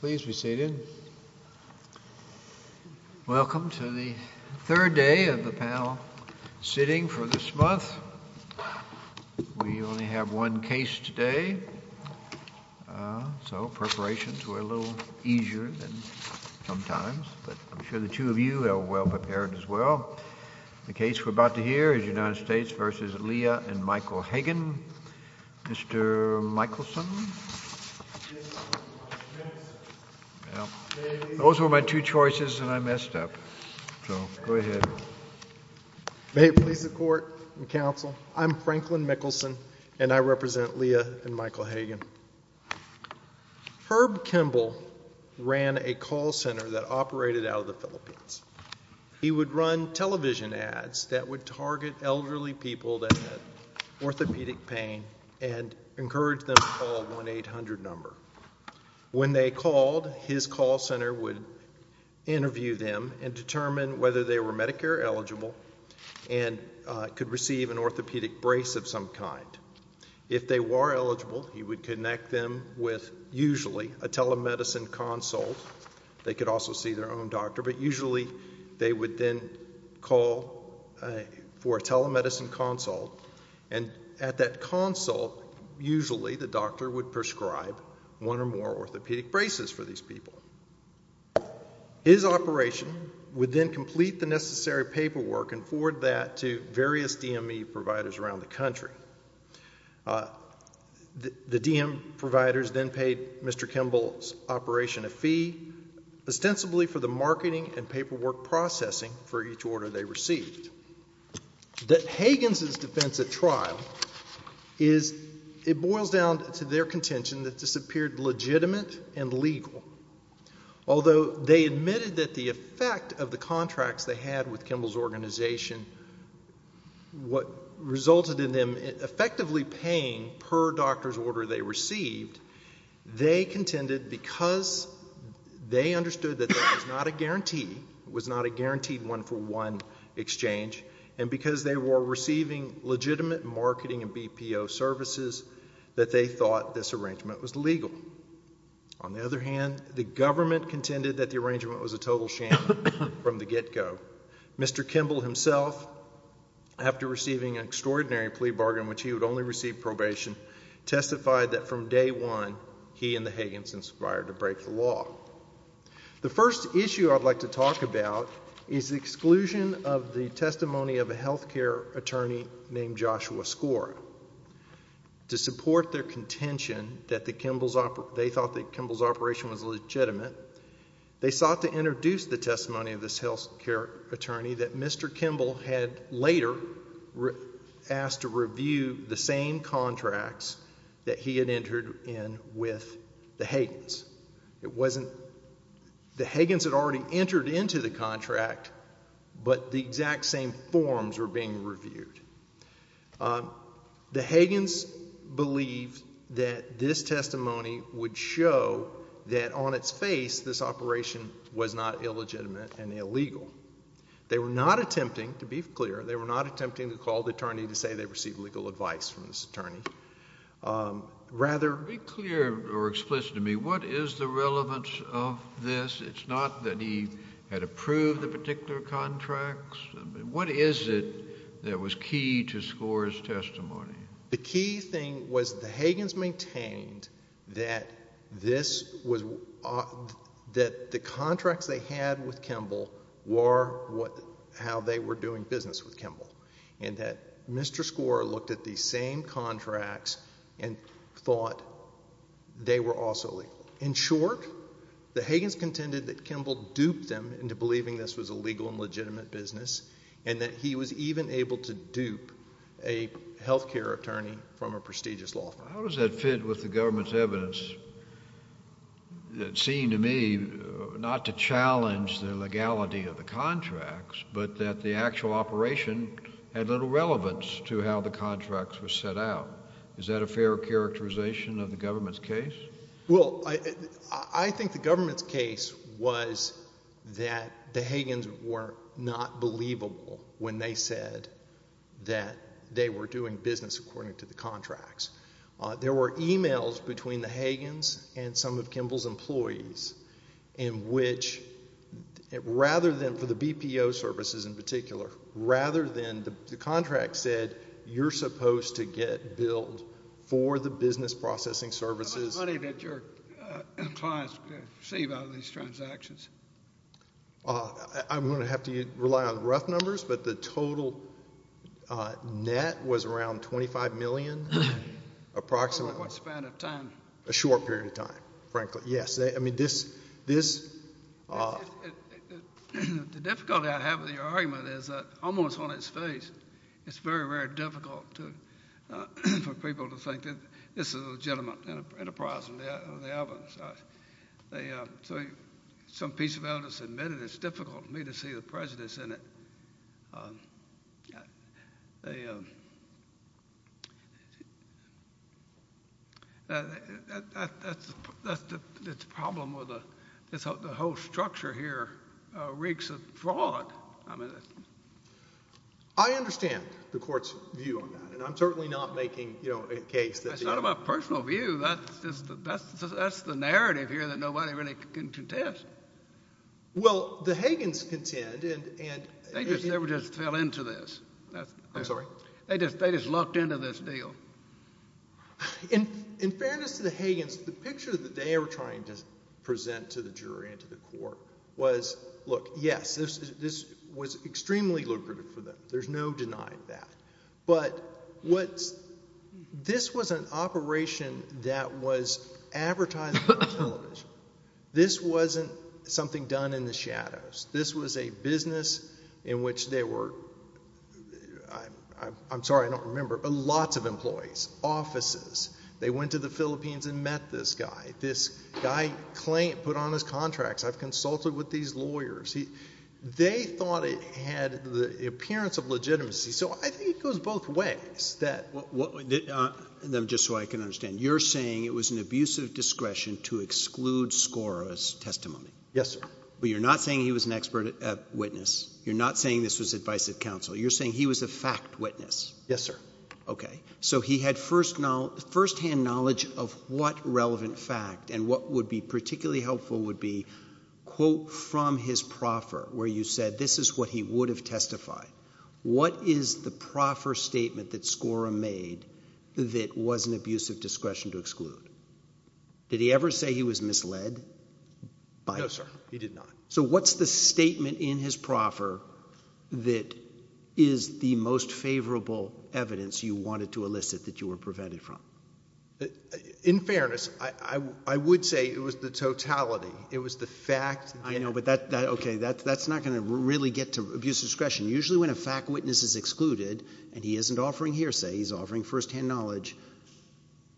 Please be seated. Welcome to the third day of the panel sitting for this month. We only have one case today. So preparations were a little easier than sometimes, but I'm sure the two of you are well-prepared as well. The case we're about to hear is United States v. Leah and Michael Hagen. Mr. Michelson. Those were my two choices and I messed up. So go ahead. May it please the court and counsel. I'm Franklin Mickelson and I represent Leah and Michael Hagen. Herb Kimball ran a call center that operated out of the Philippines. He would run television ads that would target elderly people that had orthopedic pain and encourage them to call 1-800 number. When they called his call center would interview them and determine whether they were Medicare eligible and could receive an orthopedic brace of some kind. If they were eligible, he would connect them with usually a telemedicine consult. They could also see their own doctor, but usually they would then call for a telemedicine consult and at that consult, usually the doctor would prescribe one or more orthopedic braces for these people. His operation would then complete the necessary paperwork and forward that to various DME providers around the country. ostensibly for the marketing and paperwork processing for each order they received. That Hagen's is defensive trial is it boils down to their contention that disappeared legitimate and legal. Although they admitted that the effect of the contracts they had with Kimball's organization. What resulted in them effectively paying per doctor's order they received they contended because they understood that there was not a guarantee was not a guaranteed one-for-one exchange and because they were receiving legitimate marketing and BPO services that they thought this arrangement was legal. On the other hand, the government contended that the arrangement was a total sham from the get-go. Mr. Kimball himself after receiving an extraordinary plea bargain, which he would only receive probation, testified that from day one he and the Hagen's inspired to break the law. The first issue I'd like to talk about is the exclusion of the testimony of a health care attorney named Joshua Scora. To support their contention that the Kimball's operation they thought that Kimball's operation was legitimate. They sought to introduce the testimony of this health care attorney that Mr. Kimball had later asked to review the same contracts that he had entered in with the Hagen's. It wasn't the Hagen's had already entered into the contract, but the exact same forms were being reviewed. The Hagen's believed that this testimony would show that on its face this operation was not illegitimate and illegal. They were not attempting to be clear. They were not attempting to call the attorney to say they received legal advice from this attorney. Rather... Be clear or explicit to me. What is the relevance of this? It's not that he had approved the particular contracts. What is it that was key to Scora's testimony? The key thing was the Hagen's maintained that this was... that the contracts they had with Kimball were what... how they were doing business with Kimball. And that Mr. Scora looked at the same contracts and thought they were also legal. In short, the Hagen's contended that Kimball duped them into believing this was a legal and legitimate business and that he was even able to dupe a health care attorney from a prestigious law firm. How does that fit with the government's evidence that seemed to me not to challenge the legality of the contracts, but that the actual operation had little relevance to how the contracts were set out? Is that a fair characterization of the government's case? Well, I think the government's case was that the Hagen's were not believable when they said that they were doing business according to the contracts. There were emails between the Hagen's and some of Kimball's employees in which, rather than for the BPO services in particular, rather than the contract said you're supposed to get billed for the business processing services. How much money did your clients receive out of these transactions? I'm going to have to rely on rough numbers, but the total net was around $25 million, approximately. What span of time? A short period of time, frankly. Yes, I mean this... The difficulty I have with your argument is that almost on its face, it's very, very difficult for people to think that this is a legitimate enterprise of the evidence. So some piece of evidence admitted it's difficult for me to see the prejudice in it. The problem with the whole structure here reeks of fraud. I understand the court's view on that, and I'm certainly not making a case that... That's not my personal view. That's the narrative here that nobody really can contest. Well, the Hagen's contend and... They just fell into this. I'm sorry? They just lucked into this deal. In fairness to the Hagen's, the picture that they were trying to present to the jury and to the court was, look, yes, this was extremely lucrative for them. There's no denying that. But this was an operation that was advertised on television. This wasn't something done in the shadows. This was a business in which there were... I'm sorry, I don't remember, but lots of employees, offices. They went to the Philippines and met this guy. This guy put on his contracts. I've consulted with these lawyers. They thought it had the appearance of legitimacy. So I think it goes both ways. Just so I can understand, you're saying it was an abusive discretion to exclude Skora's testimony? Yes, sir. But you're not saying he was an expert witness? You're not saying this was advice of counsel? You're saying he was a fact witness? Yes, sir. Okay. So he had firsthand knowledge of what relevant fact and what would be particularly helpful would be, quote, from his proffer, where you said this is what he would have testified. What is the proffer statement that Skora made that was an abusive discretion to exclude? Did he ever say he was misled? No, sir. He did not. So what's the statement in his proffer that is the most favorable evidence you wanted to elicit that you were prevented from? In fairness, I would say it was the totality. It was the fact. I know, but that's not going to really get to abuse of discretion. Usually when a fact witness is excluded and he isn't offering hearsay, he's offering firsthand knowledge.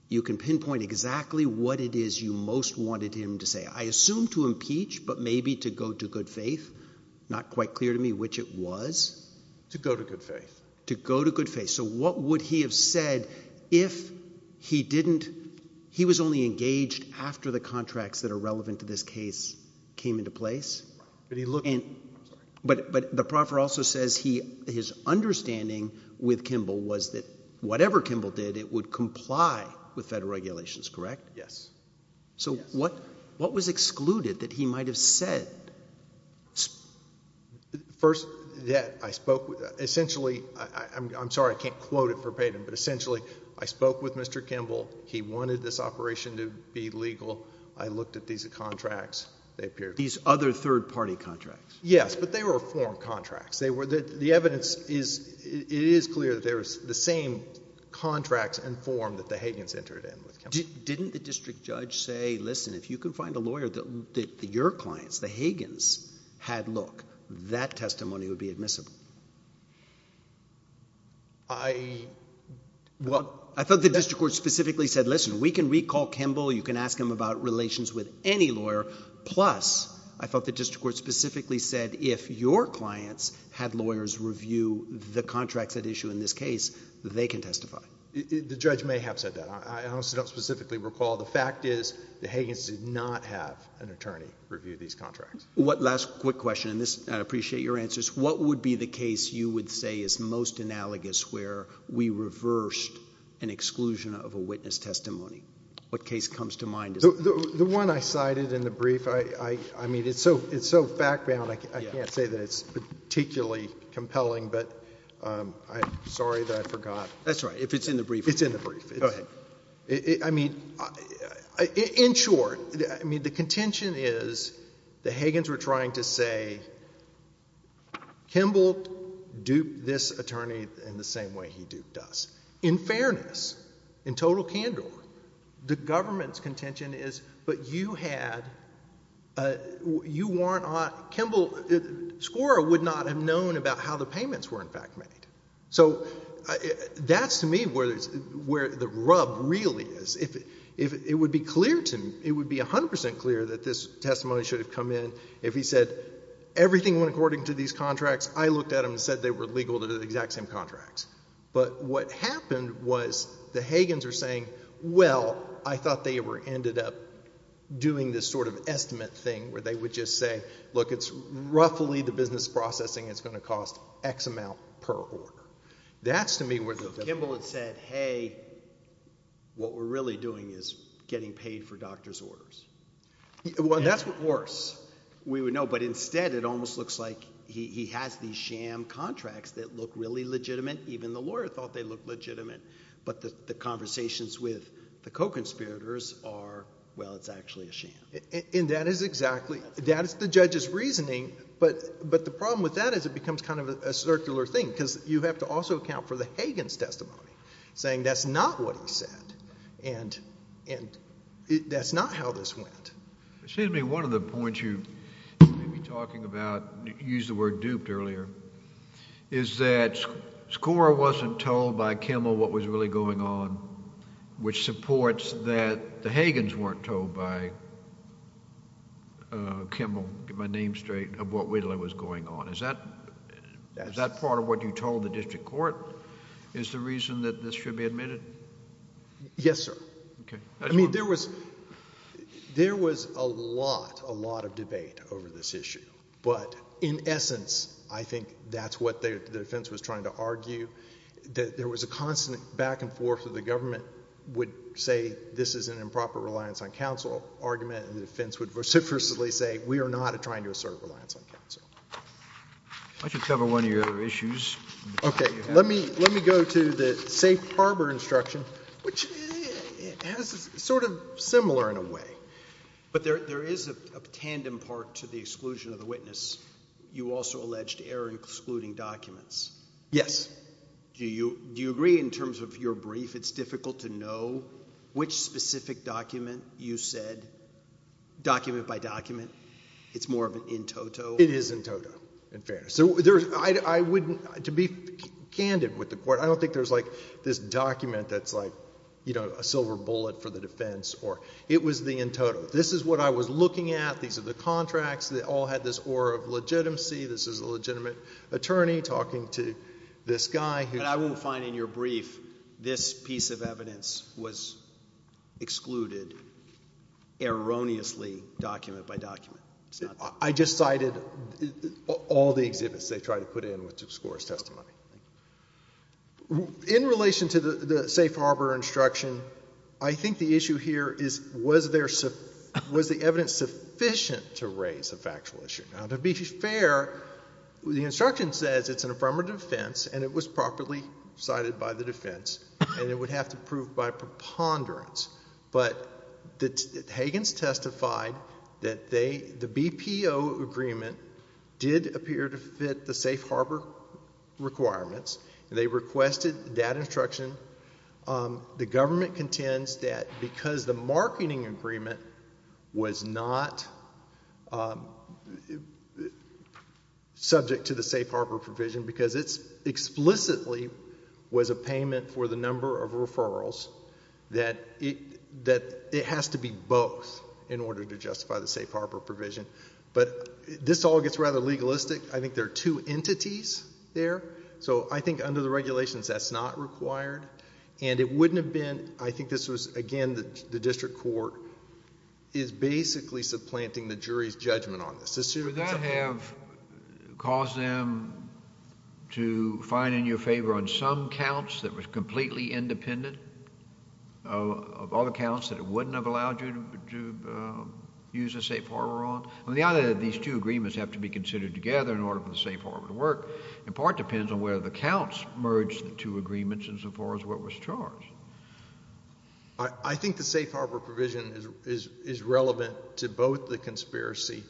You can pinpoint exactly what it is you most wanted him to say. I assume to impeach, but maybe to go to good faith. Not quite clear to me which it was. To go to good faith. To go to good faith. So what would he have said if he didn't, he was only engaged after the contracts that are relevant to this case came into place. But the proffer also says his understanding with Kimball was that whatever Kimball did, it would comply with federal regulations, correct? Yes. So what was excluded that he might have said? First, that I spoke with, essentially, I'm sorry, I can't quote it verbatim, but essentially, I spoke with Mr. Kimball. He wanted this operation to be legal. I looked at these contracts. They appeared. These other third-party contracts. Yes, but they were formed contracts. They were, the evidence is, it is clear that there was the same contracts and form that the Hagans entered in with Kimball. Didn't the district judge say, listen, if you can find a lawyer that your clients, the Hagans, had look, that testimony would be admissible? I, well, I thought the district court specifically said, listen, we can recall Kimball. You can ask him about relations with any lawyer. Plus, I thought the district court specifically said, if your clients had lawyers review the contracts at issue in this case, they can testify. The judge may have said that. I also don't specifically recall. The fact is, the Hagans did not have an attorney review these contracts. What, last quick question, and this, I appreciate your answers. What would be the case you would say is most analogous where we reversed an exclusion of a witness testimony? What case comes to mind? The one I cited in the brief, I, I, I mean, it's so, it's so fact-bound, I can't say that it's particularly compelling, but I'm sorry that I forgot. That's right. If it's in the brief. It's in the brief. Go ahead. I mean, in short, I mean, the contention is, the Hagans were trying to say, Kimball duped this attorney in the same way he duped us. In fairness, in total candor, the government's contention is, but you had, you weren't on, Kimball, Skora would not have known about how the payments were in fact made. So that's to me where there's, where the rub really is. If, if it would be clear to me, it would be 100% clear that this testimony should have come in if he said everything went according to these contracts, I looked at them and said they were legal to the exact same contracts. But what happened was the Hagans are saying, well, I thought they were ended up doing this sort of estimate thing where they would just say, look, it's roughly the business processing is going to cost X amount per order. That's to me where the Kimball had said, hey, what we're really doing is getting paid for doctor's orders. Well, that's what worse we would know, but instead it almost looks like he has these sham contracts that look really legitimate. Even the lawyer thought they looked legitimate, but the conversations with the co-conspirators are, well, it's actually a sham. And that is exactly, that is the judge's reasoning. But, but the problem with that is it becomes kind of a circular thing because you have to also account for the Hagans testimony saying that's not what he said and, and that's not how this went. Excuse me. One of the points you may be talking about, you used the earlier, is that Skor wasn't told by Kimball what was really going on, which supports that the Hagans weren't told by Kimball, get my name straight, of what really was going on. Is that, is that part of what you told the district court? Is the reason that this should be admitted? Yes, sir. Okay. I mean, there was, there was a lot, a lot of debate over this I think that's what the defense was trying to argue, that there was a constant back and forth that the government would say this is an improper reliance on counsel argument, and the defense would vociferously say we are not trying to assert reliance on counsel. I should cover one of your other issues. Okay. Let me, let me go to the safe harbor instruction, which has a sort of similar in a way, but there, there is a tandem part to the exclusion of the witness. You also alleged error in excluding documents. Yes. Do you, do you agree in terms of your brief, it's difficult to know which specific document you said, document by document, it's more of an in-toto? It is in-toto, in fairness. So there's, I wouldn't, to be candid with the court, I don't think there's like this document that's like, you know, a silver bullet for the defense or, it was the in-toto. This is what I was looking at. These are the contracts. They all had this aura of legitimacy. This is a legitimate attorney talking to this guy. And I will find in your brief, this piece of evidence was excluded erroneously, document by document. I just cited all the exhibits they tried to put in with discourse testimony. In relation to the safe harbor instruction, I think the issue here is, was there, was the evidence sufficient to raise a factual issue? Now, to be fair, the instruction says it's an affirmative defense and it was properly cited by the defense and it would have to prove by preponderance. But the Hagans testified that they, the BPO agreement did appear to fit the safe harbor requirements and they requested that instruction. The government contends that because the marketing agreement was not subject to the safe harbor provision because it's explicitly was a payment for the number of referrals that it has to be both in order to justify the safe harbor provision. But this all gets rather legalistic. I think there are two entities there. So I think under the regulations, that's not required and it wouldn't have been, I think this was again, the district court is basically supplanting the jury's judgment on this. Would that have caused them to find in your favor on some counts that was completely independent of all the counts that it wouldn't have allowed you to use a safe harbor on? The idea that these two agreements have to be considered together in order for the safe harbor to work, in part depends on whether the counts merged the two agreements insofar as what was charged. I think the safe harbor provision is relevant to both the conspiracy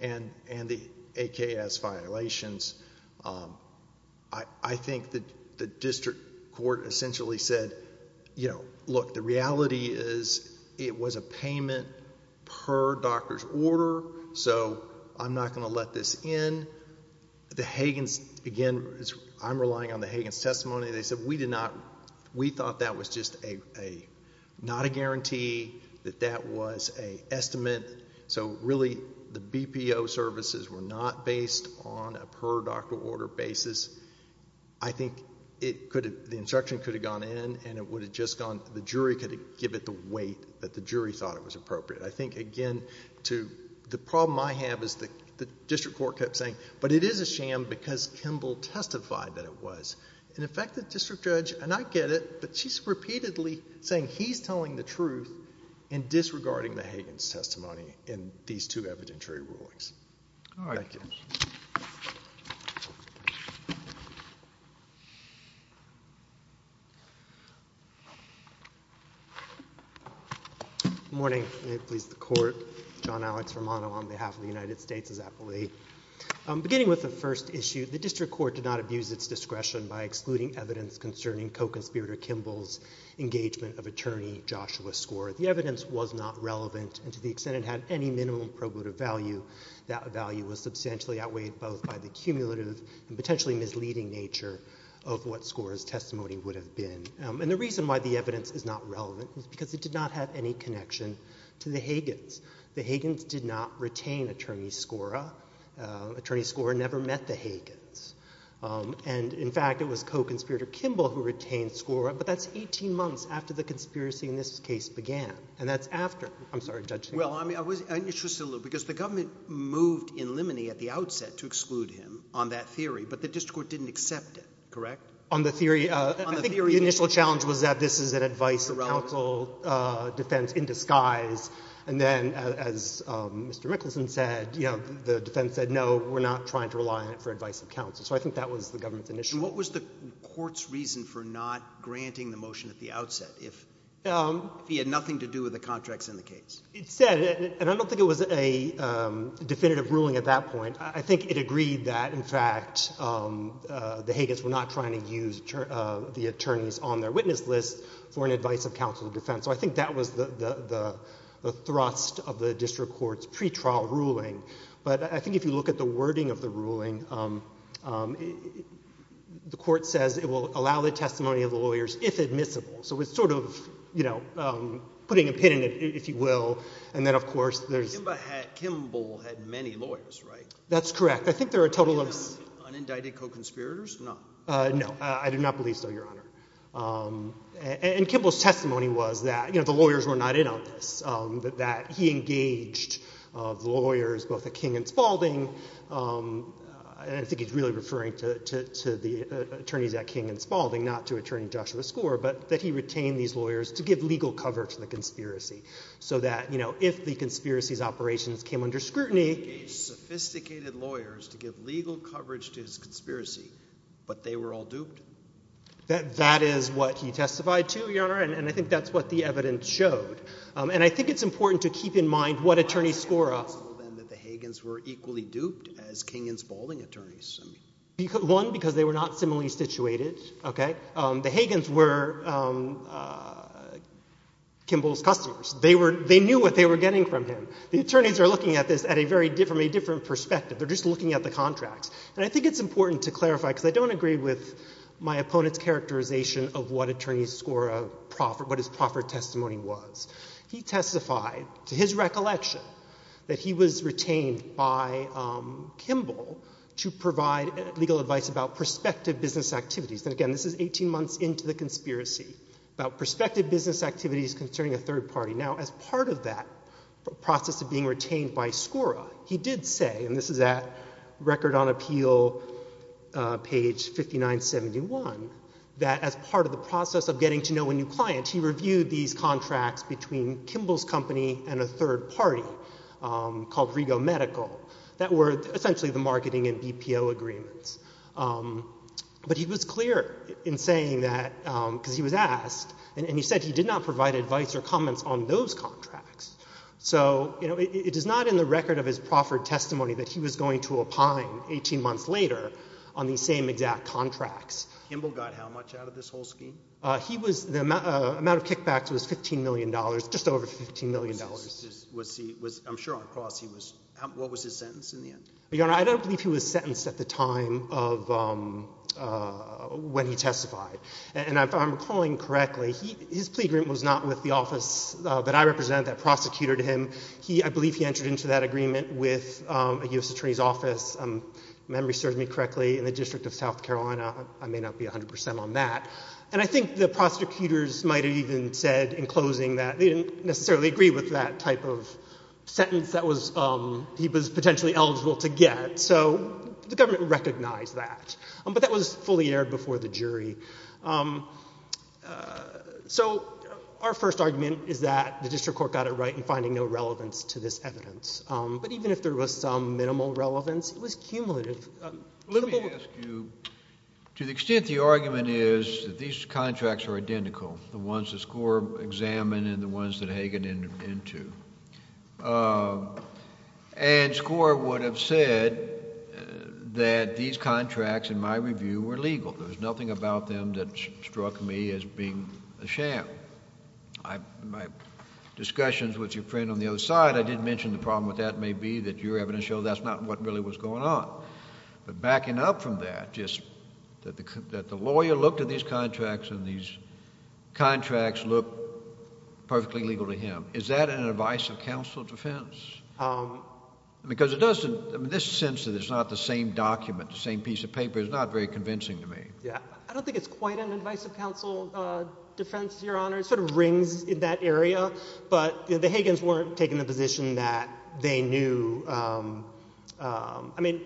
and the AKS violations. I think that the district court essentially said, you know, look, the reality is it was a payment per doctor's order. So I'm not going to let this in. The Hagins, again, I'm relying on the Hagins testimony. They said, we thought that was just not a guarantee, that that was a estimate. So really the BPO services were not based on a per doctor order basis. I think the instruction could have gone in and it would have just gone, the jury could have given it the weight that the jury thought it was appropriate. I think again, the problem I have is the district court kept saying, but it is a sham because Kimball testified that it was. And in fact, the district judge, and I get it, but she's repeatedly saying he's telling the truth and disregarding the Hagins testimony in these two evidentiary rulings. Morning. May it please the court. John Alex Romano on behalf of the United States as appellee. Beginning with the first issue, the district court did not abuse its discretion by excluding evidence concerning Koch and Spierder-Kimball's engagement of attorney Joshua Skora. The evidence was not relevant and to the extent it had any minimum probative value, that value was substantially outweighed both by the cumulative and potentially misleading nature of what Skora's testimony would have been. And the reason why the evidence is not relevant is because it did not have any connection to the Hagins. The Hagins did not retain attorney Skora, attorney Skora never met the Hagins. And in fact, it was Koch and Spierder-Kimball who retained Skora. But that's 18 months after the conspiracy in this case began and that's after. I'm sorry, Judge. Well, I mean, I was interested a little because the government moved in limine at the outset to exclude him on that theory, but the district court didn't accept it. Correct? On the theory. I think the initial challenge was that this is an advice of counsel defense in disguise. And then as Mr. Mickelson said, you know, the defense said, no, we're not trying to rely on it for advice of counsel. So I think that was the government's initial. What was the court's reason for not granting the motion at the outset if he had nothing to do with the contracts in the case? It said, and I don't think it was a definitive ruling at that point. I think it agreed that in fact, the Hagins were not trying to use the attorneys on their witness list for an advice of counsel defense. So I think that was the thrust of the district court's pre-trial ruling. But I think if you look at the wording of the ruling, the court says it will allow the testimony of the lawyers if admissible. So it's sort of, you know, putting a pin in it, if you will. And then, of course, there's Kimball had many lawyers, right? That's correct. I think there are a total of Unindicted co-conspirators? None. No, I do not believe so, Your Honor. And Kimball's testimony was that, you know, the lawyers were not in on this, that he engaged the lawyers, both at King and Spalding, and I think he's really referring to the attorneys at King and Spalding, not to Attorney Joshua Skor, but that he retained these lawyers to give legal cover to the conspiracy. So that, you know, if the conspiracy's operations came under scrutiny... He engaged sophisticated lawyers to give legal coverage to his conspiracy, but they were all duped? That is what he testified to, Your Honor, and I think that's what the evidence showed. And I think it's important to keep in mind what attorneys Skor... How is it possible, then, that the Hagins were equally duped as King and Spalding attorneys? One, because they were not similarly situated, okay? The Hagins were Kimball's customers. They were, they knew what they were getting from him. The attorneys are looking at this at a very different, from a different perspective. They're just looking at the contracts. And I think it's important to clarify, because I don't agree with my opponent's characterization of what attorneys Skor, what his proffered testimony was. He testified, to his recollection, that he was retained by Kimball to provide legal advice about prospective business activities. And again, this is 18 months into the conspiracy, about prospective business activities concerning a third party. Now, as part of that process of being retained by Skor, he did say, and this is at Record on Appeal page 5971, that as part of the process of getting to know a new client, he reviewed these contracts between Kimball's company and a third party called Rego Medical that were essentially the marketing and BPO agreements. But he was clear in saying that, because he was asked, and he said he did not provide advice or comments on those contracts. So, you know, it is not in the record of his proffered testimony that he was going to opine 18 months later on the same exact contracts. Kimball got how much out of this whole scheme? He was, the amount of kickbacks was $15 million, just over $15 million. Was he, was, I'm sure on a cross he was, what was his sentence in the end? Your Honor, I don't believe he was sentenced at the time of when he testified. And if I'm recalling correctly, his plea agreement was not with the office that I represented that prosecuted him. He, I believe he entered into that agreement with a U.S. Attorney's Office. If memory serves me correctly, in the District of South Carolina, I may not be 100% on that. And I think the prosecutors might have even said in closing that they didn't necessarily agree with that type of sentence that was, he was potentially eligible to get. So, the government recognized that. But that was fully aired before the jury. So, our first argument is that the District Court got it right in finding no relevance to this evidence. But even if there was some minimal relevance, it was cumulative. Let me ask you, to the extent the argument is that these contracts are identical, the ones that Skor examined and the ones that Hagan entered into. And Skor would have said that these contracts, in my review, were legal. There was nothing about them that struck me as being a sham. My friend on the other side, I did mention the problem with that may be that your evidence shows that's not what really was going on. But backing up from that, just that the lawyer looked at these contracts and these contracts look perfectly legal to him. Is that an advice of counsel defense? Because it doesn't, in this sense, it's not the same document, the same piece of paper, is not very convincing to me. Yeah, I don't think it's quite an advice of counsel defense, Your Honor. It sort of rings in that area. But the Hagans weren't taking the position that they knew, I mean,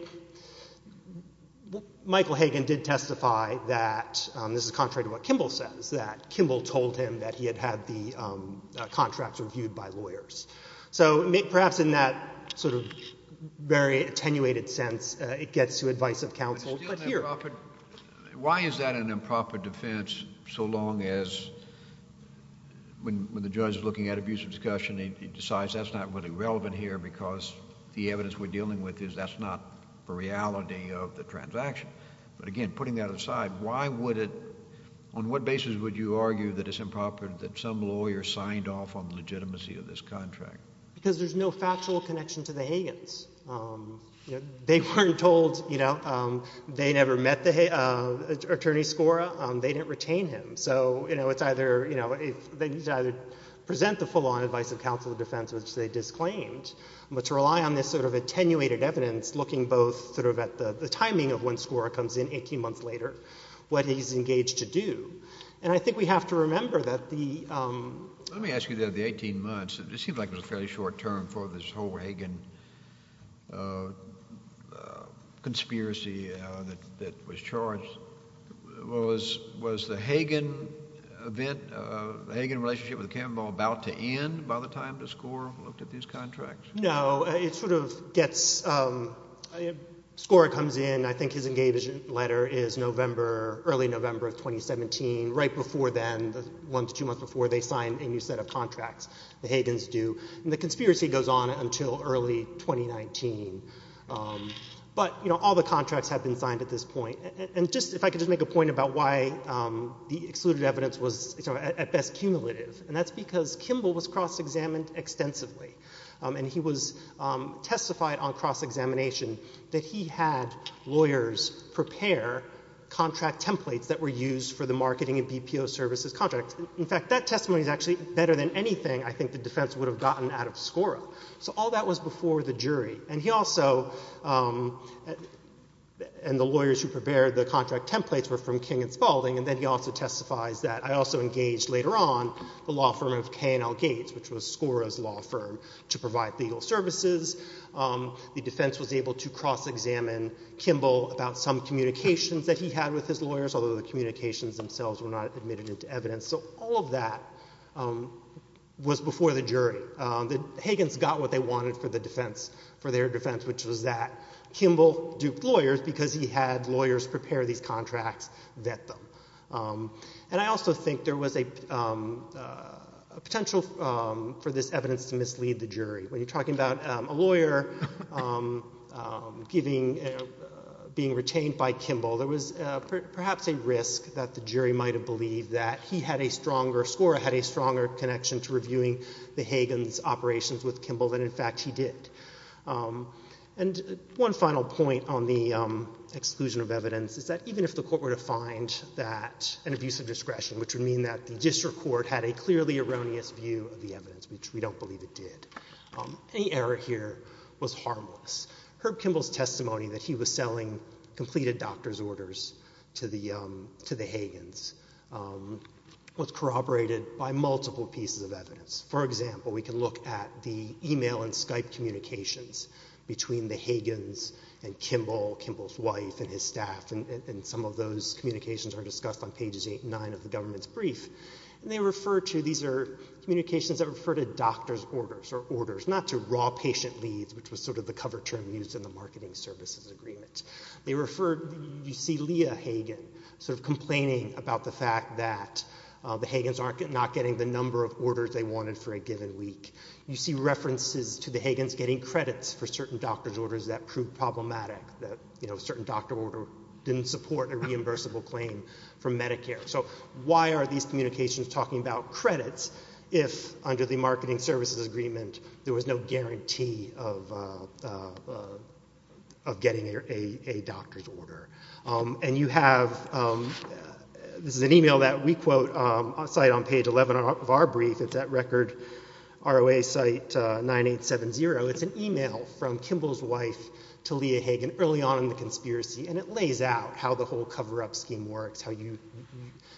Michael Hagan did testify that, this is contrary to what Kimball says, that Kimball told him that he had had the contracts reviewed by lawyers. So perhaps in that sort of very attenuated sense, it gets to advice of counsel. But here... Why is that an improper defense so long as when the judge is looking at abuse of discussion, he decides that's not really relevant here because the evidence we're dealing with is that's not the reality of the transaction. But again, putting that aside, why would it, on what basis would you argue that it's improper that some lawyer signed off on the legitimacy of this contract? Because there's no factual connection to the Hagans. They weren't told, you know, they never met the attorney scora. They didn't retain him. So, you know, it's either, you know, if they need to either present the full-on advice of counsel of defense, which they disclaimed, but to rely on this sort of attenuated evidence, looking both sort of at the timing of when scora comes in 18 months later, what he's engaged to do. And I think we have to remember that the... Let me ask you that the 18 months, it seems like it was a fairly short term for this whole Hagan conspiracy that was charged. Was the Hagan event, the Hagan relationship with Campbell about to end by the time that scora looked at these contracts? No, it sort of gets, scora comes in, I think his engagement letter is November, early November of 2017, right before then, the one to two months before they signed a new set of contracts, the Hagans do. And the conspiracy goes on until early 2019. But, you know, all the contracts have been signed at this point. And just, if I could just make a point about why the excluded evidence was at best cumulative, and that's because Kimball was cross-examined extensively, and he was testified on cross-examination that he had lawyers prepare contract templates that were used for the marketing of BPO services contracts. In fact, that testimony is actually better than anything, I think the defense would have gotten out of scora. So all that was before the jury, and he also, and the lawyers who prepared the contract templates were from King and Spalding, and then he also testifies that, I also engaged later on, the law firm of K&L Gates, which was scora's law firm, to provide legal services. The defense was able to cross-examine Kimball about some communications that he had with his lawyers, although the communications themselves were not admitted into evidence. So all of that was before the jury. defense, which was the that Kimball duped lawyers because he had lawyers prepare these contracts, vet them. And I also think there was a potential for this evidence to mislead the jury. When you're talking about a lawyer giving, being retained by Kimball, there was perhaps a risk that the jury might have believed that he had a stronger, scora had a stronger connection to reviewing the Hagen's operations with Kimball than, in fact, he did. And one final point on the exclusion of evidence is that, even if the court were to find that an abuse of discretion, which would mean that the district court had a clearly erroneous view of the evidence, which we don't believe it did, any error here was harmless. Herb Kimball's testimony that he was selling completed doctor's orders to the, to the Hagen's was corroborated by multiple pieces of evidence. For example, we can look at the email and Skype communications that were sent to the Hagen's. And we can look at the email and Skype communications between the Hagen's and Kimball, Kimball's wife, and his staff. And some of those communications are discussed on pages 8 and 9 of the government's brief. And they refer to, these are communications that refer to doctor's orders, or orders, not to raw patient leads, which was sort of the cover term used in the marketing services agreement. They refer, you see Leah Hagen sort of complaining about the fact that the Hagen's aren't, not getting the number of orders they need, and they're not getting credits for certain doctor's orders that proved problematic, that, you know, certain doctor order didn't support a reimbursable claim from Medicare. So why are these communications talking about credits if, under the marketing services agreement, there was no guarantee of, of getting a doctor's order? And you have, this is an email that we quote, a site on page 11 of our brief, it's at record ROA site 9870. It's an email from Kimball's wife to Leah Hagen early on in the conspiracy, and it lays out how the whole cover-up scheme works, how you,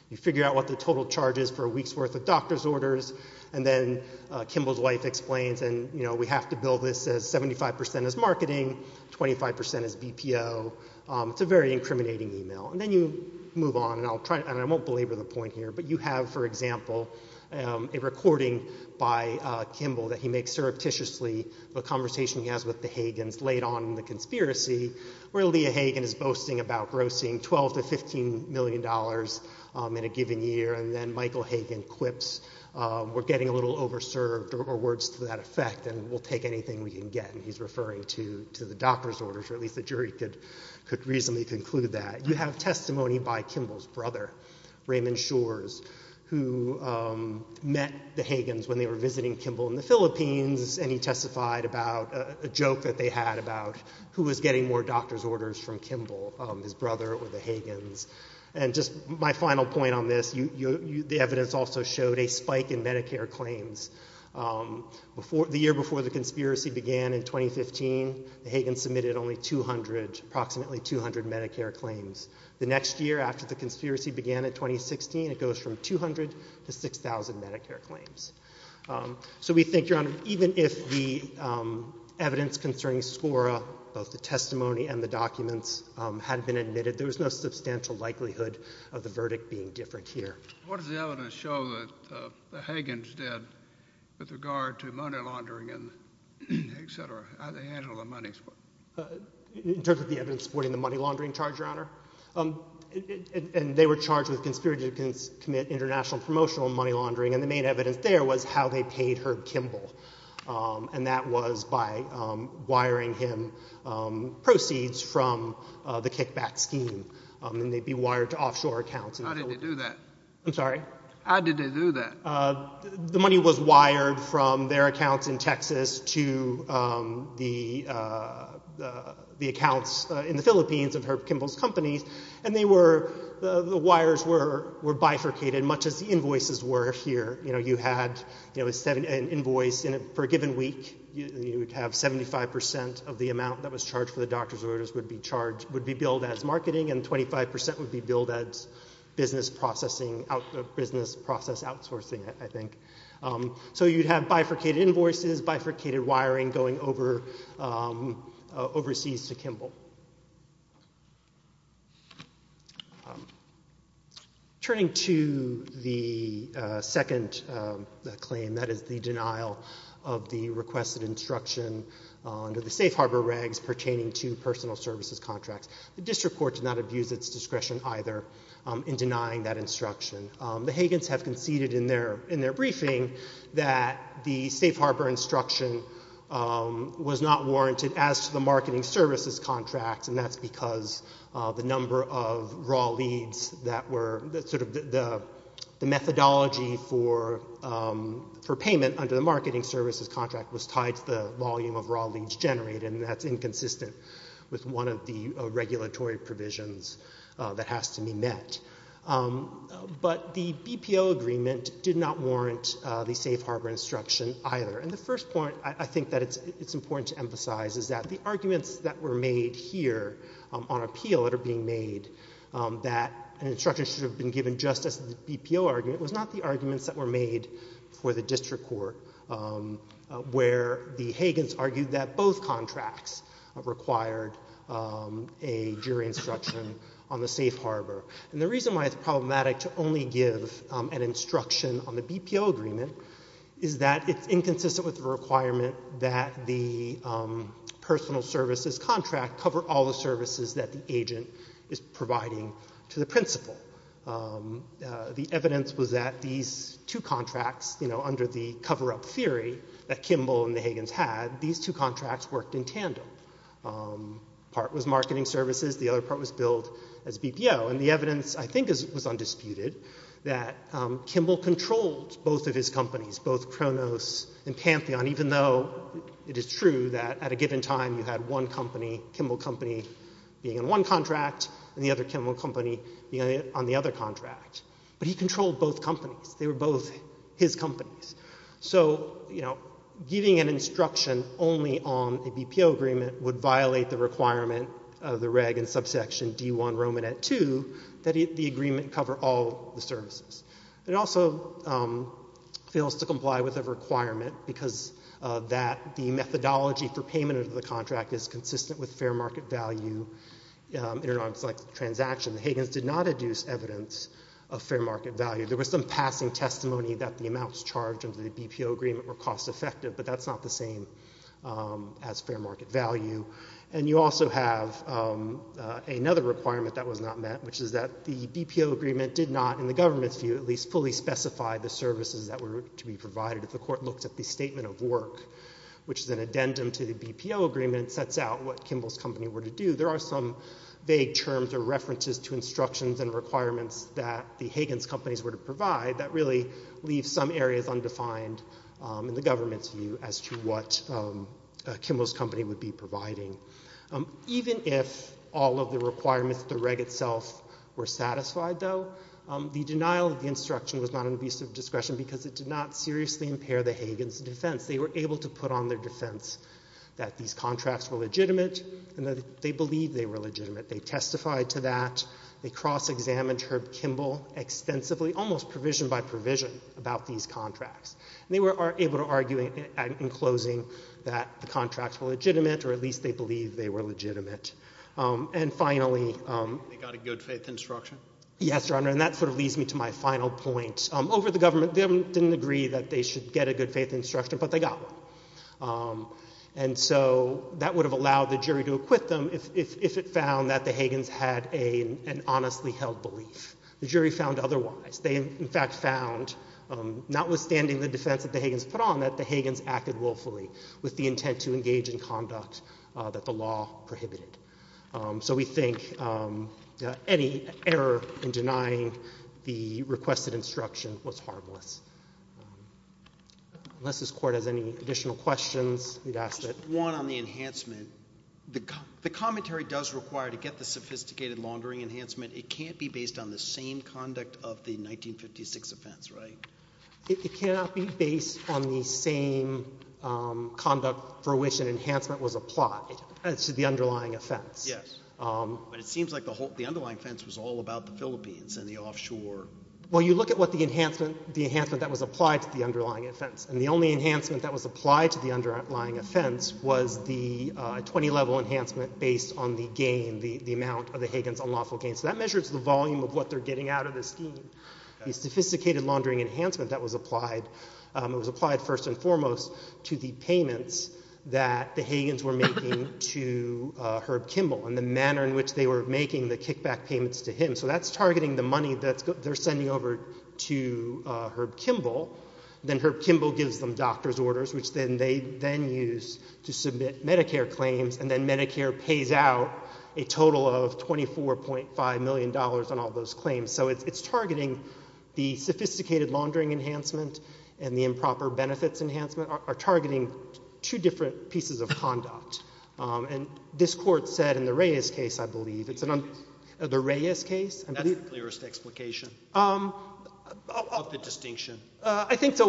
you figure out what the total charge is for a week's worth of doctor's orders. And then Kimball's wife explains, and you know, we have to bill this as 75% as marketing, 25% as BPO. It's a very incriminating email. And then you move on, and I'll try, and I won't belabor the point here, but you have, for example, a recording by Kimball that he makes surreptitiously, the conversation he has with the Hagens late on in the conspiracy, where Leah Hagen is boasting about grossing 12 to 15 million dollars in a given year, and then Michael Hagen quips, we're getting a little over-served, or words to that effect, and we'll take anything we can get. And he's referring to the doctor's orders, or at least the jury could, could reasonably conclude that. You have testimony by Kimball's brother, Raymond Shores, who met the Hagens when they were visiting Kimball in the Philippines, and he testified about a joke that they had about who was getting more doctor's orders from Kimball, his brother or the Hagens. And just my final point on this, the evidence also showed a spike in Medicare claims. Before, the year before the conspiracy began in 2015, the Hagens submitted only 200, approximately 200 Medicare claims. The next year after the conspiracy began in 2016, it goes from 200 to 6,000 Medicare claims. So we think, Your Honor, even if the evidence concerning SCORA, both the testimony and the documents, had been admitted, there was no substantial likelihood of the verdict being different here. What does the evidence show that the Hagens did with regard to money laundering and et cetera, how they handled the money? In terms of the evidence supporting the money laundering charge, Your Honor? And they were charged with conspiracy to commit international promotional money laundering, and the main evidence there was how they paid Herb Kimball. And that was by wiring him proceeds from the kickback scheme. And they'd be wired to offshore accounts. How did they do that? I'm sorry? How did they do that? The money was wired from their accounts in Texas to the the accounts in the Philippines of Herb Kimball's company, and they were, the wires were bifurcated, much as the invoices were here. You know, you had an invoice for a given week. You would have 75% of the amount that was charged for the doctor's orders would be charged, would be billed as marketing, and 25% would be billed as business processing, business process outsourcing, I think. So you'd have bifurcated invoices, bifurcated wiring, going over overseas to Kimball. Turning to the second claim, that is the denial of the requested instruction under the Safe Harbor regs pertaining to personal services contracts, the District Court did not abuse its discretion either in denying that instruction. The Hagans have conceded in their, in their briefing that the Safe Harbor instruction and that's because the number of contracts that were issued and the number of raw leads that were, that sort of the methodology for payment under the marketing services contract was tied to the volume of raw leads generated, and that's inconsistent with one of the regulatory provisions that has to be met. But the BPO agreement did not warrant the Safe Harbor instruction either, and the first point I think that it's important to emphasize is that the arguments that were made here on appeal that are being made, that an instruction should have been given just as the BPO argument, was not the arguments that were made for the District Court where the Hagans argued that both contracts required a jury instruction on the Safe Harbor. And the reason why it's problematic to only give an instruction on the BPO agreement is that it's inconsistent with the requirement that the services that the agent is providing to the principal. The evidence was that these two contracts, you know, under the cover-up theory that Kimball and the Hagans had, these two contracts worked in tandem. Part was marketing services, the other part was billed as BPO, and the evidence, I think, was undisputed that Kimball controlled both of his companies, both Kronos and Pantheon, even though it is true that at a given time you had one company, Kimball company, being in one contract, and the other Kimball company being on the other contract, but he controlled both companies. They were both his companies. So, you know, giving an instruction only on a BPO agreement would violate the requirement of the reg in subsection D1 Romanet 2, that the agreement cover all the services. It also fails to comply with a requirement because that the methodology for payment of the contract is consistent with fair market value in an unselected transaction. The Hagans did not adduce evidence of fair market value. There was some passing testimony that the amounts charged under the BPO agreement were cost-effective, but that's not the same as fair market value. And you also have another requirement that was not met, which is that the BPO agreement did not, in the government's view, at least fully specify the services that were to be provided. If the court looked at the statement of work, which is an addendum to the BPO agreement, it sets out what Kimball's company were to do. There are some vague terms or references to instructions and requirements that the Hagans' companies were to provide that really leave some areas undefined in the government's view as to what Kimball's company would be providing. Even if all of the requirements of the reg itself were satisfied, though, the denial of the instruction was not an abuse of discretion because it did not seriously impair the Hagans' defense. They were able to put on their defense that these contracts were legitimate and that they believe they were legitimate. They testified to that. They cross-examined Herb Kimball extensively, almost provision by provision, about these contracts. They were able to argue in closing that the contracts were legitimate, or at least they believe they were legitimate. And finally... They got a good faith instruction? Yes, Your Honor, and that sort of leads me to my final point. Over the government, the government didn't agree that they should get a good faith instruction, but they got one. And so that would have allowed the jury to acquit them if it found that the Hagans had an honestly held belief. The jury found otherwise. They, in fact, found notwithstanding the defense that the Hagans put on that the Hagans acted willfully with the intent to engage in conduct that the law prohibited. So we think any error in denying the requested instruction was harmless. Unless this Court has any additional questions, we'd ask it. One on the enhancement. The commentary does require to get the sophisticated laundering enhancement. It can't be based on the same conduct of the 1956 offense, right? It cannot be based on the same conduct for which an enhancement was applied as to the underlying offense. Yes, but it seems like the underlying offense was all about the Philippines and the offshore. Well, you look at what the enhancement, the enhancement that was applied to the underlying offense, and the only enhancement that was applied to the underlying offense was the 20-level enhancement based on the gain, the amount of the Hagans' unlawful gain. So that measures the volume of what they're getting out of the scheme. The sophisticated laundering enhancement that was applied, it was applied first and foremost to the payments that the Hagans were making to Herb Kimball and the manner in which they were making the kickback payments to him. So that's targeting the money that they're sending over to Herb Kimball, then Herb Kimball gives them doctor's orders, which then they then use to submit Medicare claims, and then Medicare pays out a total of $24.5 million on all those claims. So it's targeting the sophisticated laundering enhancement and the improper benefits enhancement are targeting two different pieces of conduct. And this Court said in the Reyes case, I believe, it's an un... The Reyes case? That's the clearest explication. Of the distinction. I think so.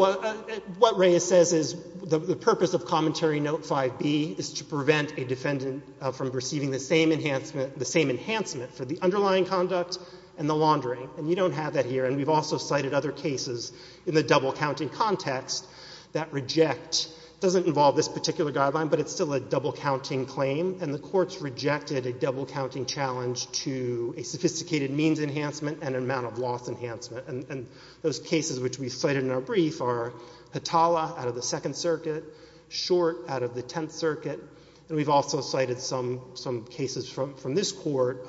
What Reyes says is the purpose of commentary note 5B is to prevent a defendant from receiving the same enhancement, the same enhancement for the underlying conduct and the laundering. And you don't have that here. And we've also cited other cases in the double-counting context that reject, doesn't involve this particular guideline, but it's still a double-counting claim. And the courts rejected a double-counting challenge to a sophisticated means enhancement and amount of loss enhancement. And those cases which we cited in our brief are Hatala out of the Second Circuit, Short out of the Tenth Circuit, and we've also cited some cases from this Court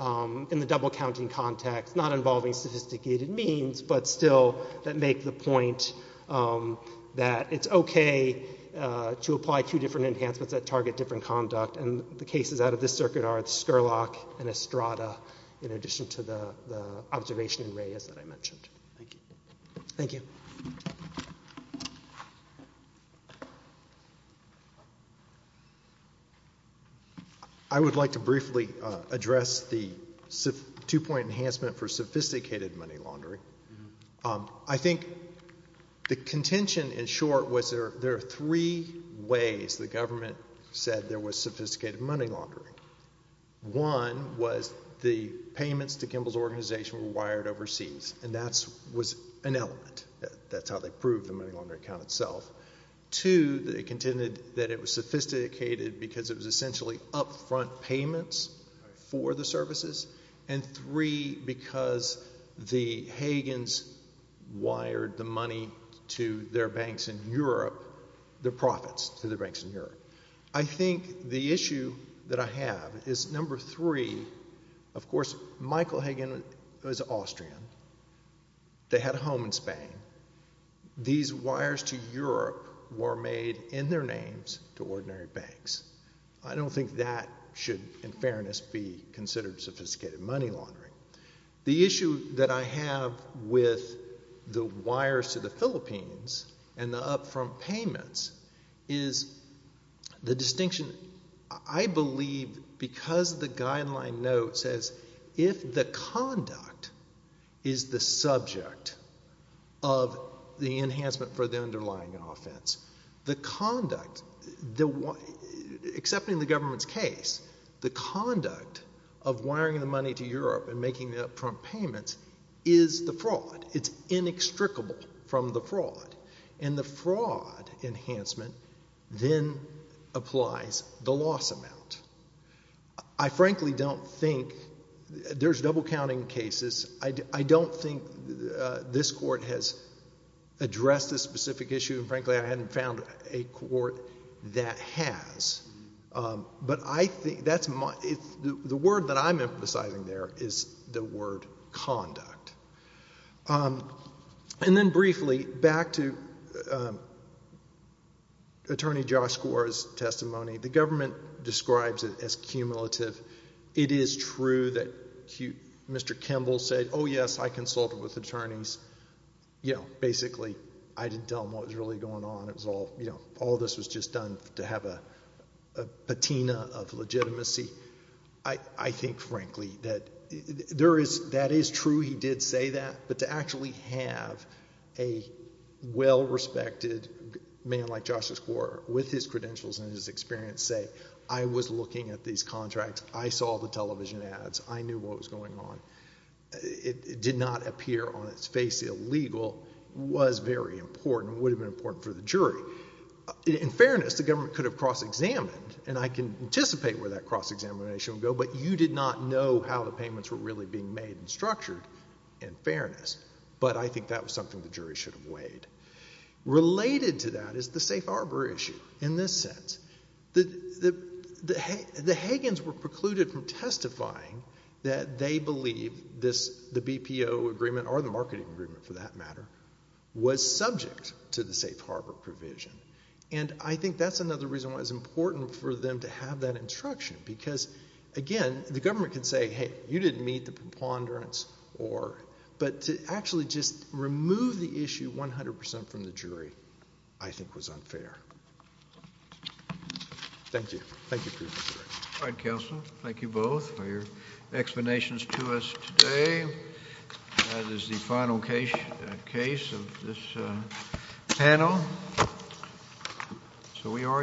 in the double-counting context, not involving sophisticated means, but still that make the point that it's okay to apply two different enhancements that target different conduct. And the cases out of this circuit are the Scurlock and Estrada in addition to the observation in Reyes that I mentioned. Thank you. Thank you. I would like to briefly address the two-point enhancement for sophisticated money laundering. I think the contention in short was there are three ways the government said there was sophisticated money laundering. One was the payments to Kimball's organization were an element. That's how they proved the money laundering count itself. Two, they contended that it was sophisticated because it was essentially upfront payments for the services. And three, because the Hagens wired the money to their banks in Europe, their profits to the banks in Europe. I think the issue that I have is number three, of course, Michael Hagen was Austrian. They had a home in Spain. These wires to Europe were made in their names to ordinary banks. I don't think that should, in fairness, be considered sophisticated money laundering. The issue that I have with the wires to the Philippines and the upfront payments is the distinction. I believe because the guideline note says if the conduct is the subject of the enhancement for the underlying offense, the conduct, except in the government's case, the conduct of wiring the money to Europe and making the upfront payments is the fraud. It's inextricable from the fraud. And the fraud enhancement then applies the loss amount. I frankly don't think, there's double counting cases. I don't think this court has addressed this specific issue. And frankly, I hadn't found a court that has. But I think that's my, the word that I'm emphasizing there is the word conduct. And then briefly back to Attorney Josh Gore's testimony. The government describes it as cumulative. It is true that Mr. Kimball said, oh yes, I consulted with attorneys. You know, basically, I didn't tell him what was really going on. It was all, you know, all this was just done to have a patina of legitimacy. I think frankly that there is, that is true. He did say that. But to actually have a well-respected man like Josh Gore with his credentials and his experience say, I was looking at these contracts. I saw the television ads. I knew what was going on. It did not appear on its face illegal, was very important, would have been important for the jury. In fairness, the government could have cross-examined and I can anticipate where that cross-examination would go. But you did not know how the payments were really being made and structured, in fairness. But I think that was something the jury should have weighed. Related to that is the safe harbor issue in this sense. The Higgins were precluded from testifying that they believe this, the BPO agreement or the marketing agreement for that matter, was subject to the safe harbor provision. And I think that's another reason why it's important for them to have that instruction because again, the government can say, hey, you didn't meet the preponderance or, but to actually just remove the issue 100% from the jury, I think was unfair. Thank you. Thank you. All right, counsel. Thank you both for your explanations to us today. That is the final case of this panel. So we are adjourned.